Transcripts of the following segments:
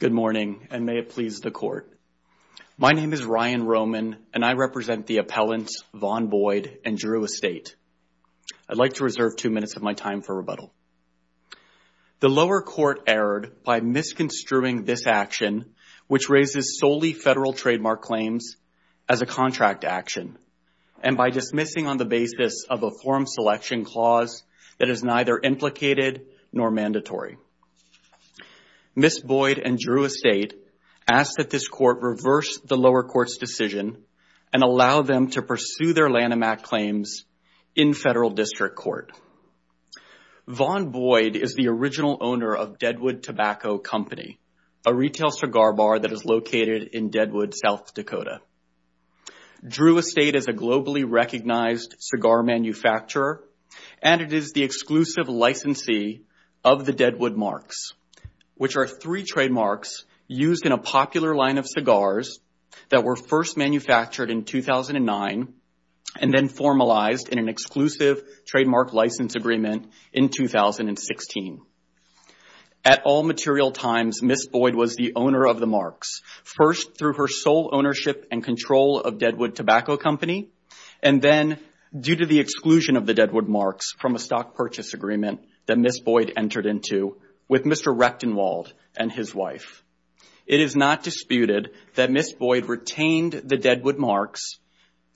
Good morning, and may it please the Court. My name is Ryan Roman, and I represent the appellants Vaughn Boyd and Drew Estate. I'd like to reserve two minutes of my time for rebuttal. The lower court erred by misconstruing this action, which raises solely Federal trademark claims as a contract action, and by dismissing on the basis of a form selection clause that is neither implicated nor mandatory. Ms. Boyd and Drew Estate ask that this Court reverse the lower court's decision and allow them to pursue their Lanham Act claims in Federal District Court. Vaughn Boyd is the original owner of Deadwood Tobacco Company, a retail cigar bar that is located in Deadwood, South Dakota. Drew Estate is a globally recognized cigar manufacturer, and it is the exclusive licensee of the Deadwood Marks, which are three trademarks used in a popular line of cigars that were first manufactured in 2009 and then formalized in an exclusive trademark license agreement in 2016. At all material times, Ms. Boyd was the owner of the marks, first through her sole ownership and control of Deadwood Tobacco Company, and then due to the exclusion of the Deadwood Marks from a stock purchase agreement that Ms. Boyd entered into with Mr. Recktenwald and his wife. It is not disputed that Ms. Boyd retained the Deadwood Marks.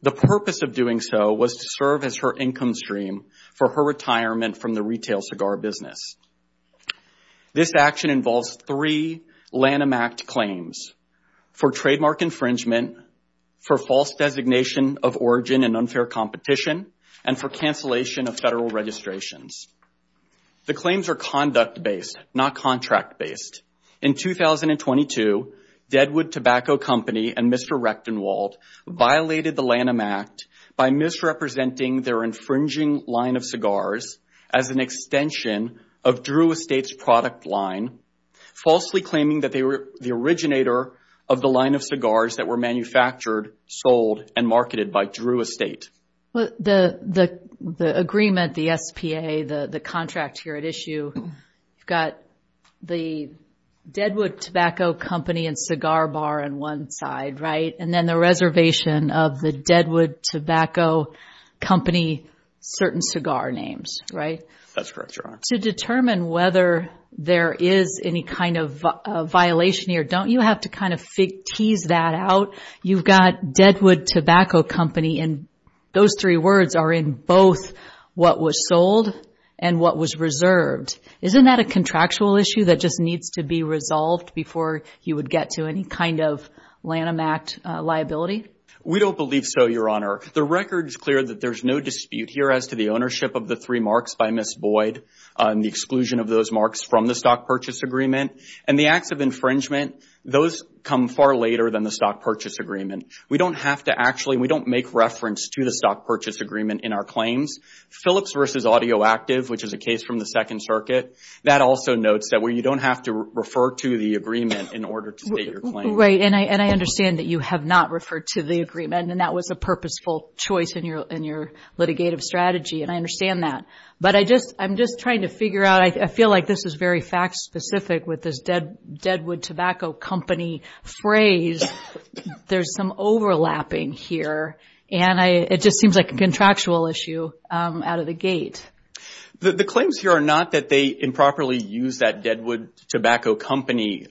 The purpose of doing so was to serve as her income stream for her retirement from the retail cigar business. This action involves three Lanham Act claims, for trademark infringement, for false designation of origin and unfair competition, and for cancellation of Federal registrations. The claims are conduct-based, not contract-based. In 2022, Deadwood Tobacco Company and Mr. Recktenwald violated the Lanham Act by misrepresenting their infringing line of cigars as an extension of Drew Estate's product line, falsely claiming that they were the originator of the line of cigars that were manufactured, sold, and marketed by Drew Estate. The agreement, the SPA, the contract here at issue, you've got the Deadwood Tobacco Company and cigar bar on one side, right, and then the reservation of the Deadwood Tobacco Company, certain cigar names, right? That's correct, Your Honor. To determine whether there is any kind of violation here, don't you have to kind of tease that out? You've got Deadwood Tobacco Company and those three words are in both what was sold and what was reserved. Isn't that a contractual issue that just needs to be resolved before you would get to any kind of Lanham Act liability? We don't believe so, Your Honor. The record is clear that there's no dispute here as to the ownership of the three marks by Ms. Boyd and the exclusion of those marks from the stock purchase agreement. And the acts of infringement, those come far later than the stock purchase agreement. We don't have to actually, we don't make reference to the stock purchase agreement in our claims. Phillips v. Audioactive, which is a case from the Second Circuit, that also notes that where you don't have to refer to the agreement in order to state your claim. Right, and I understand that you have not referred to the agreement and that was a purposeful choice in your litigative strategy and I understand that. But I'm just trying to figure out, I feel like this is very fact specific with this Deadwood Tobacco Company phrase. There's some overlapping here and it just seems like a contractual issue out of the gate. The claims here are not that they improperly used that Deadwood Tobacco Company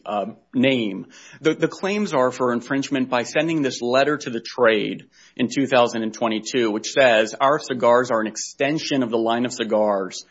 name. The claims are for infringement by sending this letter to the trade in 2022 which says, our cigars are an extension of the line of cigars,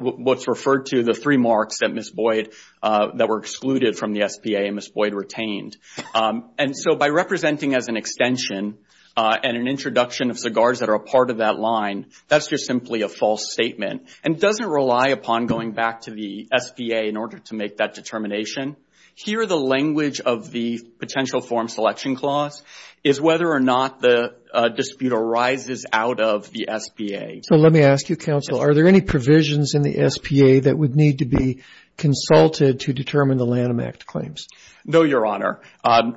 what's referred to the three marks that Ms. Boyd, that were excluded from the SPA and Ms. Boyd retained. And so by representing as an extension and an introduction of cigars that are a part of that line, that's just simply a false statement. And doesn't rely upon going back to the SPA in order to make that determination. Here the language of the potential form selection clause is whether or not the dispute arises out of the SPA. So let me ask you counsel, are there any provisions in the SPA that would need to be consulted to determine the Lanham Act claims? No Your Honor,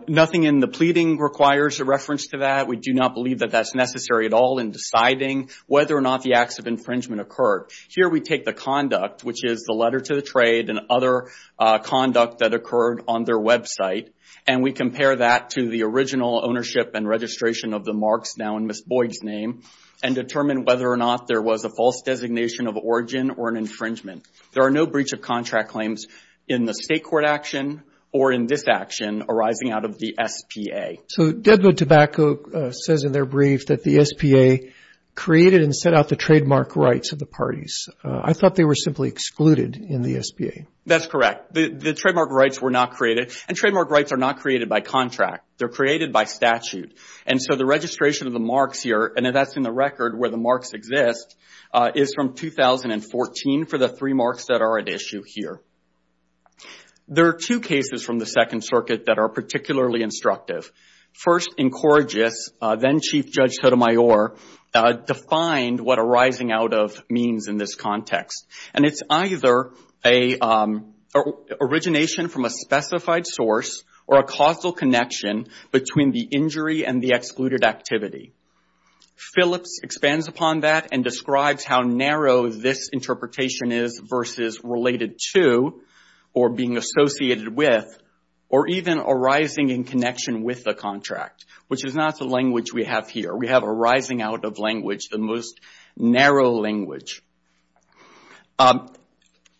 nothing in the pleading requires a reference to that. We do not believe that that's necessary at all in deciding whether or not the acts of infringement occurred. Here we take the conduct which is the letter to the trade and other conduct that occurred on their website and we compare that to the original ownership and registration of the marks now in Ms. Boyd's name and determine whether or not there was a false designation of origin or an infringement. There are no breach of contract claims in the state court action or in this action arising out of the SPA. So Deadwood Tobacco says in their brief that the SPA created and set out the trademark rights of the parties. I thought they were simply excluded in the SPA. That's correct. The trademark rights were not created and trademark rights are not created by contract. They're created by statute and so the registration of the marks here and that's in the record where the marks exist is from 2014 for the three marks that are at issue here. There are two cases from the Second Circuit that are particularly instructive. First, Incorrigus, then Chief Judge Sotomayor, defined what arising out of means in this context and it's either an origination from a specified source or a causal connection between the injury and the excluded activity. Phillips expands upon that and describes how narrow this interpretation is versus related to or being associated with or even arising in connection with the contract, which is not the language we have here. We have arising out of language, the most narrow language.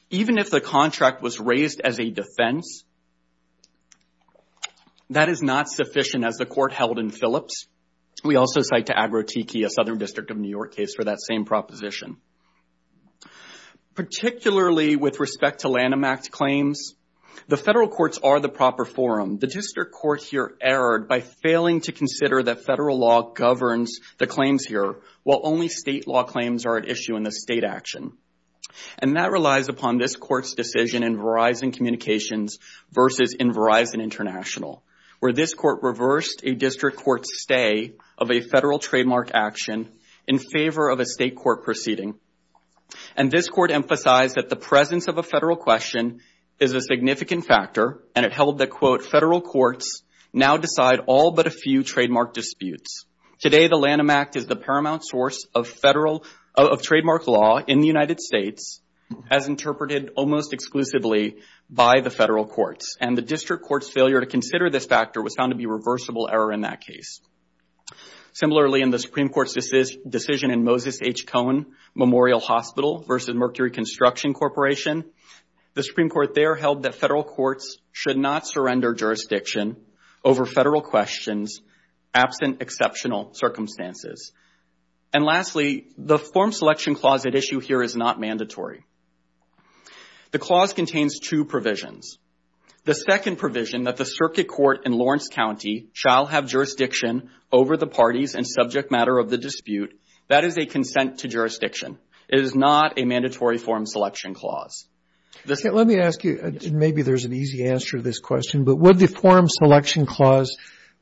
Even if the contract was raised as a defense, that is not sufficient as the court held in We also cite to Agrotiki, a Southern District of New York case, for that same proposition. Particularly with respect to Lanham Act claims, the federal courts are the proper forum. The district court here erred by failing to consider that federal law governs the claims here while only state law claims are at issue in the state action. And that relies upon this court's decision in Verizon Communications versus in Verizon International, where this court reversed a district court's stay of a federal trademark action in favor of a state court proceeding. And this court emphasized that the presence of a federal question is a significant factor and it held that, quote, federal courts now decide all but a few trademark disputes. Today the Lanham Act is the paramount source of federal, of trademark law in the United States as interpreted almost exclusively by the federal courts. And the district court's failure to consider this factor was found to be reversible error in that case. Similarly, in the Supreme Court's decision in Moses H. Cohn Memorial Hospital versus Mercury Construction Corporation, the Supreme Court there held that federal courts should not surrender jurisdiction over federal questions absent exceptional circumstances. And lastly, the form selection clause at issue here is not mandatory. The clause contains two provisions. The second provision that the circuit court in Lawrence County shall have jurisdiction over the parties and subject matter of the dispute, that is a consent to jurisdiction. It is not a mandatory form selection clause. Let me ask you, maybe there's an easy answer to this question, but would the form selection clause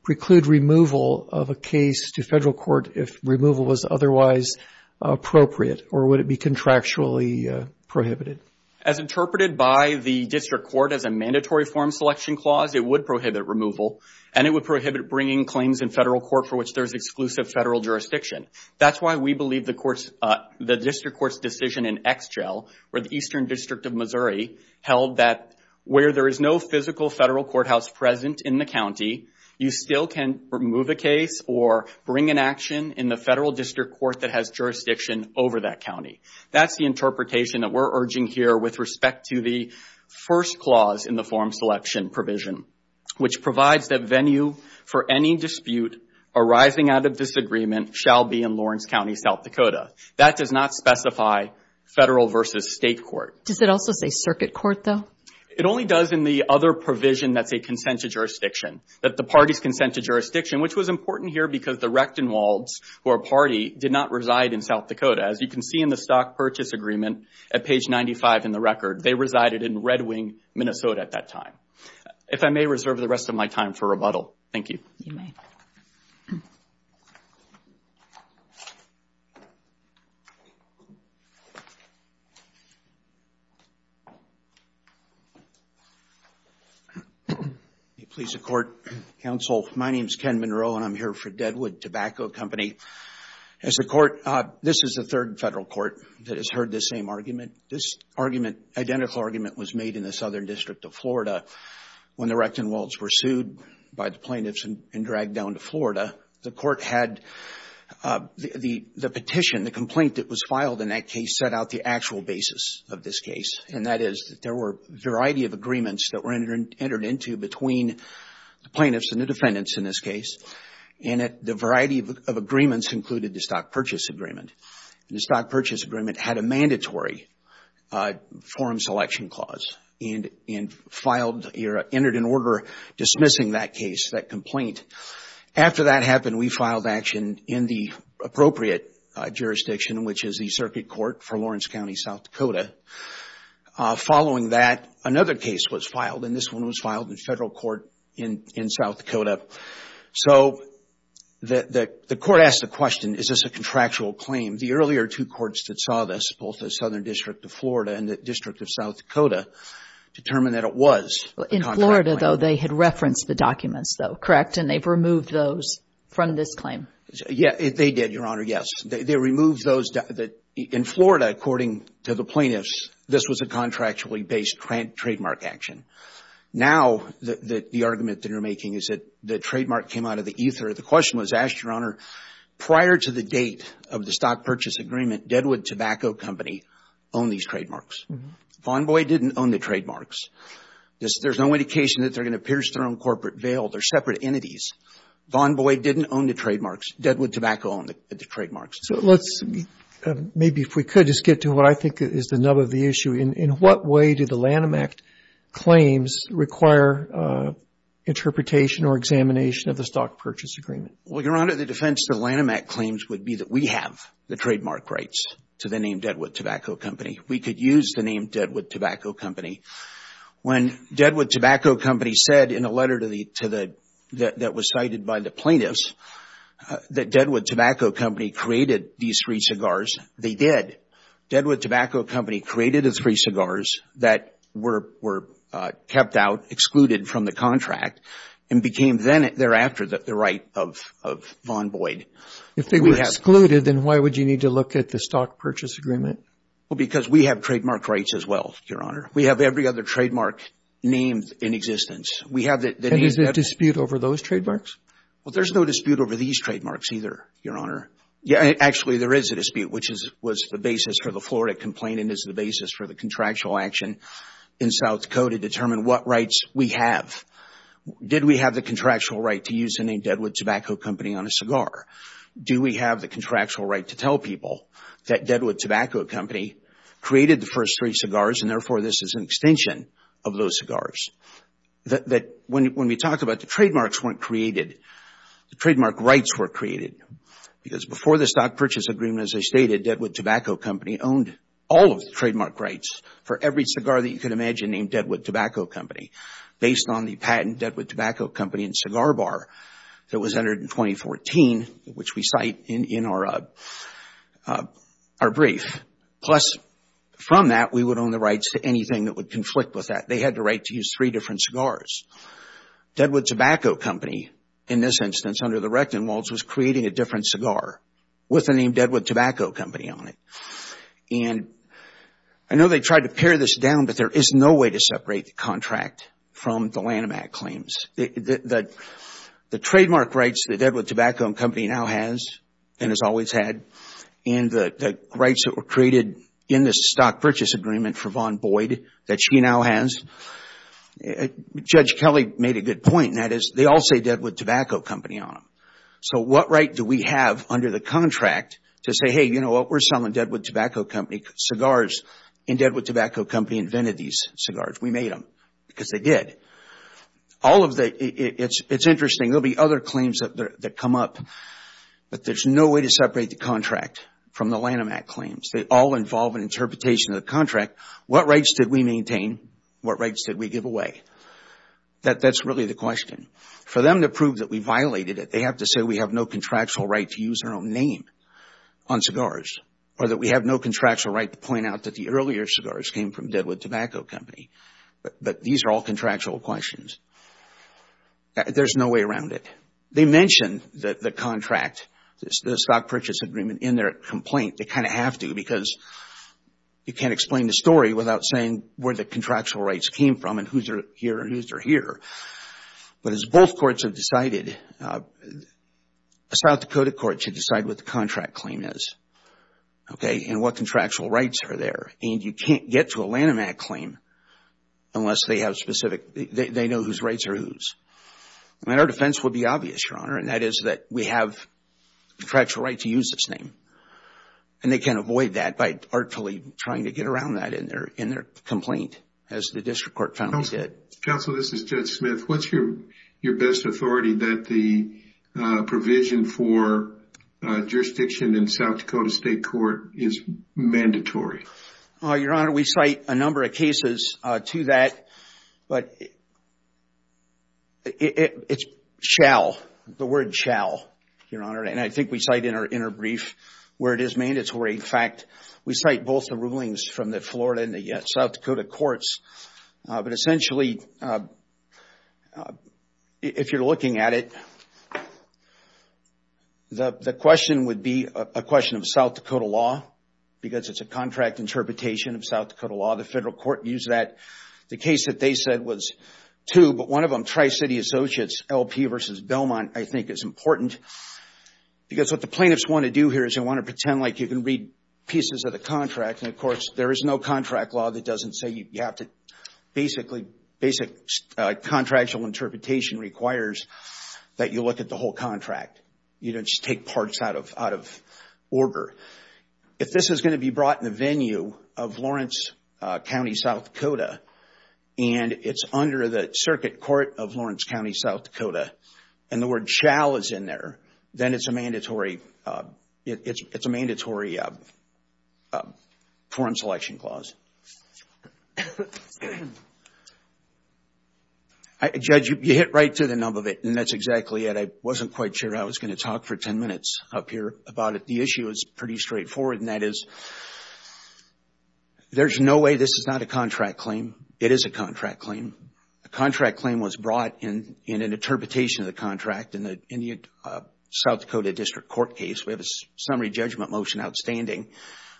preclude removal of a case to federal court if removal was otherwise appropriate or would it be contractually prohibited? As interpreted by the district court as a mandatory form selection clause, it would prohibit removal and it would prohibit bringing claims in federal court for which there's exclusive federal jurisdiction. That's why we believe the court's, the district court's decision in Exgel or the Eastern District of Missouri held that where there is no physical federal courthouse present in the county, you still can remove a case or bring an action in the federal district court that has jurisdiction over that county. That's the interpretation that we're urging here with respect to the first clause in the form selection provision, which provides that venue for any dispute arising out of disagreement shall be in Lawrence County, South Dakota. That does not specify federal versus state court. Does it also say circuit court, though? It only does in the other provision that's a consent to jurisdiction, that the parties consent to jurisdiction, which was important here because the Rechtenwalds, who are a party, did not reside in South Dakota. As you can see in the stock purchase agreement at page 95 in the record, they resided in Red Wing, Minnesota at that time. If I may reserve the rest of my time for rebuttal. Thank you. You may. May it please the court, counsel. My name's Ken Monroe and I'm here for Deadwood Tobacco Company. As a court, this is the third federal court that has heard this same argument. This argument, identical argument, was made in the Southern District of Florida when the Rechtenwalds were sued by the plaintiffs and dragged down to Florida. The court had the petition, the complaint that was filed in that case, set out the actual basis of this case, and that is that there were a variety of agreements that were entered into between the plaintiffs and the defendants in this case. The variety of agreements included the stock purchase agreement. The stock purchase agreement had a mandatory forum selection clause and entered an order dismissing that case, that complaint. After that happened, we filed action in the appropriate jurisdiction, which is the circuit court for Lawrence County, South Dakota. Following that, another case was filed, and this one was filed in federal court in South Dakota. So, the court asked the question, is this a contractual claim? The earlier two courts that saw this, both the Southern District of Florida and the District of South Dakota, determined that it was a contractual claim. In Florida, though, they had referenced the documents, though, correct? And they've removed those from this claim? Yeah, they did, Your Honor, yes. They removed those. In Florida, according to the plaintiffs, this was a contractually based trademark action. Now, the argument that you're making is that the trademark came out of the ether. The question was asked, Your Honor, prior to the date of the stock purchase agreement, Deadwood Tobacco Company owned these trademarks. Vaughn Boyd didn't own the trademarks. There's no indication that they're going to pierce their own corporate veil. They're separate entities. Vaughn Boyd didn't own the trademarks. So let's, maybe if we could, just get to what I think is the nub of the issue. In what way do the Lanham Act claims require interpretation or examination of the stock purchase agreement? Well, Your Honor, the defense of the Lanham Act claims would be that we have the trademark rights to the name Deadwood Tobacco Company. We could use the name Deadwood Tobacco Company. When Deadwood Tobacco Company said in a letter that was cited by the plaintiffs that Deadwood Tobacco Company created these three cigars, they did. Deadwood Tobacco Company created the three cigars that were kept out, excluded from the contract and became then thereafter the right of Vaughn Boyd. If they were excluded, then why would you need to look at the stock purchase agreement? Well, because we have trademark rights as well, Your Honor. We have every other trademark named in existence. We have the name. And is there a dispute over those trademarks? Well, there's no dispute over these trademarks either, Your Honor. Yeah, actually, there is a dispute, which was the basis for the Florida complaint and is the basis for the contractual action in South Dakota to determine what rights we have. Did we have the contractual right to use the name Deadwood Tobacco Company on a cigar? Do we have the contractual right to tell people that Deadwood Tobacco Company created the first three cigars and therefore this is an extension of those cigars? That when we talk about the trademarks weren't created, the trademark rights were created. Because before the stock purchase agreement, as I stated, Deadwood Tobacco Company owned all of the trademark rights for every cigar that you could imagine named Deadwood Tobacco Company based on the patent Deadwood Tobacco Company and Cigar Bar that was entered in 2014, which we cite in our brief. Plus from that, we would own the rights to anything that would conflict with that. They had the right to use three different cigars. Deadwood Tobacco Company, in this instance, under the Rectum Laws, was creating a different cigar with the name Deadwood Tobacco Company on it. I know they tried to pare this down, but there is no way to separate the contract from the Lanham Act claims. The trademark rights that Deadwood Tobacco Company now has and has always had and the were created in this stock purchase agreement for Vaughn Boyd that she now has. Judge Kelly made a good point and that is they all say Deadwood Tobacco Company on them. What right do we have under the contract to say, hey, you know what, we're selling Deadwood Tobacco Company cigars and Deadwood Tobacco Company invented these cigars. We made them because they did. It's interesting. There'll be other claims that come up, but there's no way to separate the contract from the Lanham Act claims. They all involve an interpretation of the contract. What rights did we maintain? What rights did we give away? That's really the question. For them to prove that we violated it, they have to say we have no contractual right to use our own name on cigars or that we have no contractual right to point out that the earlier cigars came from Deadwood Tobacco Company, but these are all contractual questions. There's no way around it. They mention the contract, the stock purchase agreement, in their complaint. They kind of have to because you can't explain the story without saying where the contractual rights came from and whose are here and whose are here. But as both courts have decided, the South Dakota court should decide what the contract claim is and what contractual rights are there. You can't get to a Lanham Act claim unless they have specific, they know whose rights are whose. Our defense would be obvious, Your Honor, and that is that we have contractual right to use this name. They can avoid that by artfully trying to get around that in their complaint, as the district court found they did. Counsel, this is Judge Smith. What's your best authority that the provision for jurisdiction in South Dakota State Court is mandatory? Your Honor, we cite a number of cases to that. But it's shall, the word shall, Your Honor, and I think we cite in our brief where it is mandatory. In fact, we cite both the rulings from the Florida and the South Dakota courts, but essentially, if you're looking at it, the question would be a question of South Dakota law because it's a contract interpretation of South Dakota law. The federal court used that. The case that they said was two, but one of them, Tri-City Associates, LP versus Belmont, I think is important because what the plaintiffs want to do here is they want to pretend like you can read pieces of the contract, and of course, there is no contract law that doesn't say you have to basically, basic contractual interpretation requires that you look at the whole contract. You don't just take parts out of order. If this is going to be brought in the venue of Lawrence County, South Dakota, and it's under the circuit court of Lawrence County, South Dakota, and the word shall is in there, then it's a mandatory foreign selection clause. Judge, you hit right to the nub of it, and that's exactly it. I wasn't quite sure I was going to talk for 10 minutes up here about it. The issue is pretty straightforward, and that is there's no way this is not a contract claim. It is a contract claim. A contract claim was brought in an interpretation of the contract in the South Dakota District Court case. We have a summary judgment motion outstanding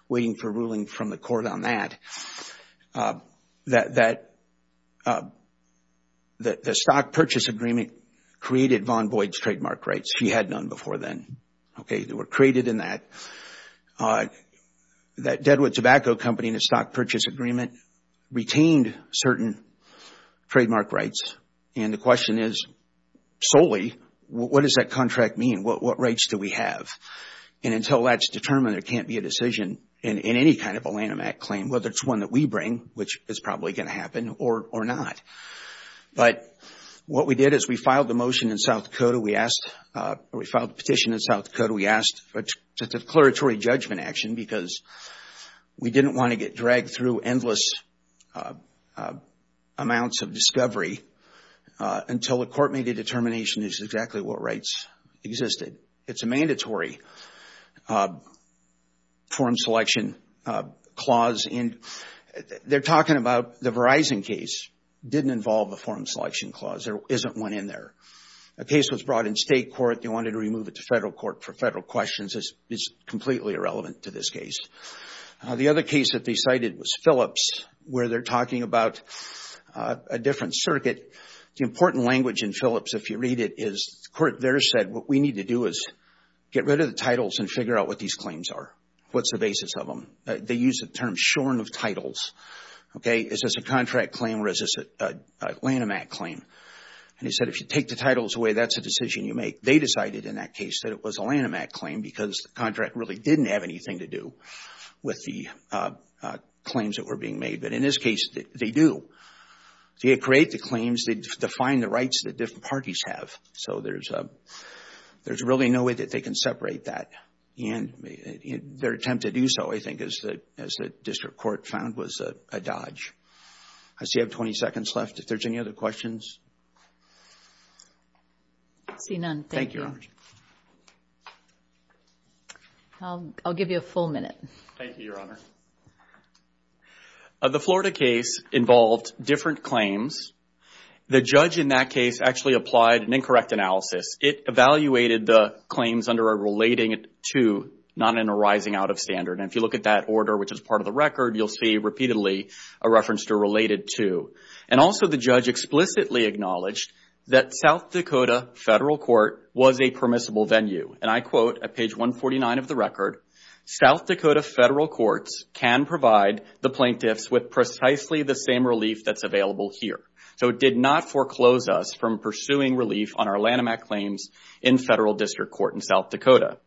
waiting for ruling from the court on that. The stock purchase agreement created Vaughn Boyd's trademark rights. He had none before then. They were created in that. That Deadwood Tobacco Company and the stock purchase agreement retained certain trademark rights, and the question is solely, what does that contract mean? What rights do we have? Until that's determined, there can't be a decision in any kind of a Lanham Act claim, whether it's one that we bring, which is probably going to happen, or not. What we did is we filed the motion in South Dakota. We filed the petition in South Dakota. We asked for a declaratory judgment action because we didn't want to get dragged through endless amounts of discovery until the court made a determination that this is exactly what rights existed. It's a mandatory form selection clause. They're talking about the Verizon case didn't involve a form selection clause. There isn't one in there. A case was brought in state court. They wanted to remove it to federal court for federal questions. It's completely irrelevant to this case. The other case that they cited was Phillips, where they're talking about a different circuit. The important language in Phillips, if you read it, is the court there said, what we need to do is get rid of the titles and figure out what these claims are, what's the basis of them. They use the term shorn of titles. Is this a contract claim or is this a Lanham Act claim? They said, if you take the titles away, that's a decision you make. They decided in that case that it was a Lanham Act claim because the contract really didn't have anything to do with the claims that were being made. In this case, they do. They create the claims. They define the rights that different parties have. There's really no way that they can separate that. Their attempt to do so, I think, as the district court found, was a dodge. I see I have 20 seconds left. If there's any other questions. I see none. Thank you. I'll give you a full minute. Thank you, Your Honor. The Florida case involved different claims. The judge in that case actually applied an incorrect analysis. It evaluated the claims under a relating to, not in a rising out of standard. If you look at that order, which is part of the record, you'll see repeatedly a reference to related to. Also, the judge explicitly acknowledged that South Dakota Federal Court was a permissible venue. I quote at page 149 of the record, South Dakota Federal Courts can provide the plaintiffs with precisely the same relief that's available here. It did not foreclose us from pursuing relief on our Lanham Act claims in Federal District Court in South Dakota.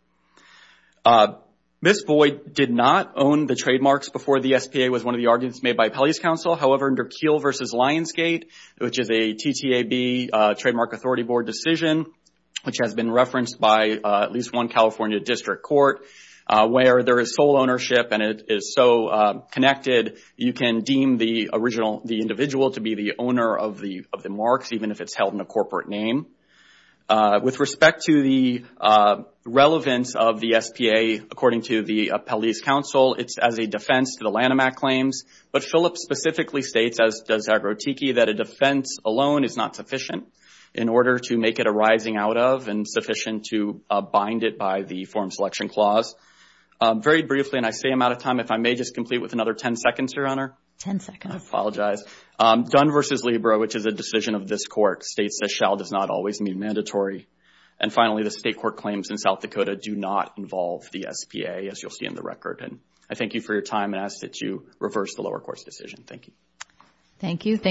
Ms. Boyd did not own the trademarks before the SPA was one of the arguments made by Appellee's Council. However, under Keele versus Lionsgate, which is a TTAB, Trademark Authority Board decision, which has been referenced by at least one California District Court, where there is sole ownership and it is so connected, you can deem the individual to be the owner of the marks, even if it's held in a corporate name. With respect to the relevance of the SPA, according to the Appellee's Council, it's as a defense to the Lanham Act claims. But Phillips specifically states, as does Zagroticki, that a defense alone is not sufficient in order to make it a rising out of and sufficient to bind it by the form selection clause. Very briefly, and I say I'm out of time, if I may just complete with another 10 seconds, Your Honor. 10 seconds. I apologize. Dunn versus Libra, which is a decision of this court, states that shall does not always mean mandatory. And finally, the state court claims in South Dakota do not involve the SPA, as you'll see in the record. And I thank you for your time and ask that you reverse the lower court's decision. Thank you. Thank you.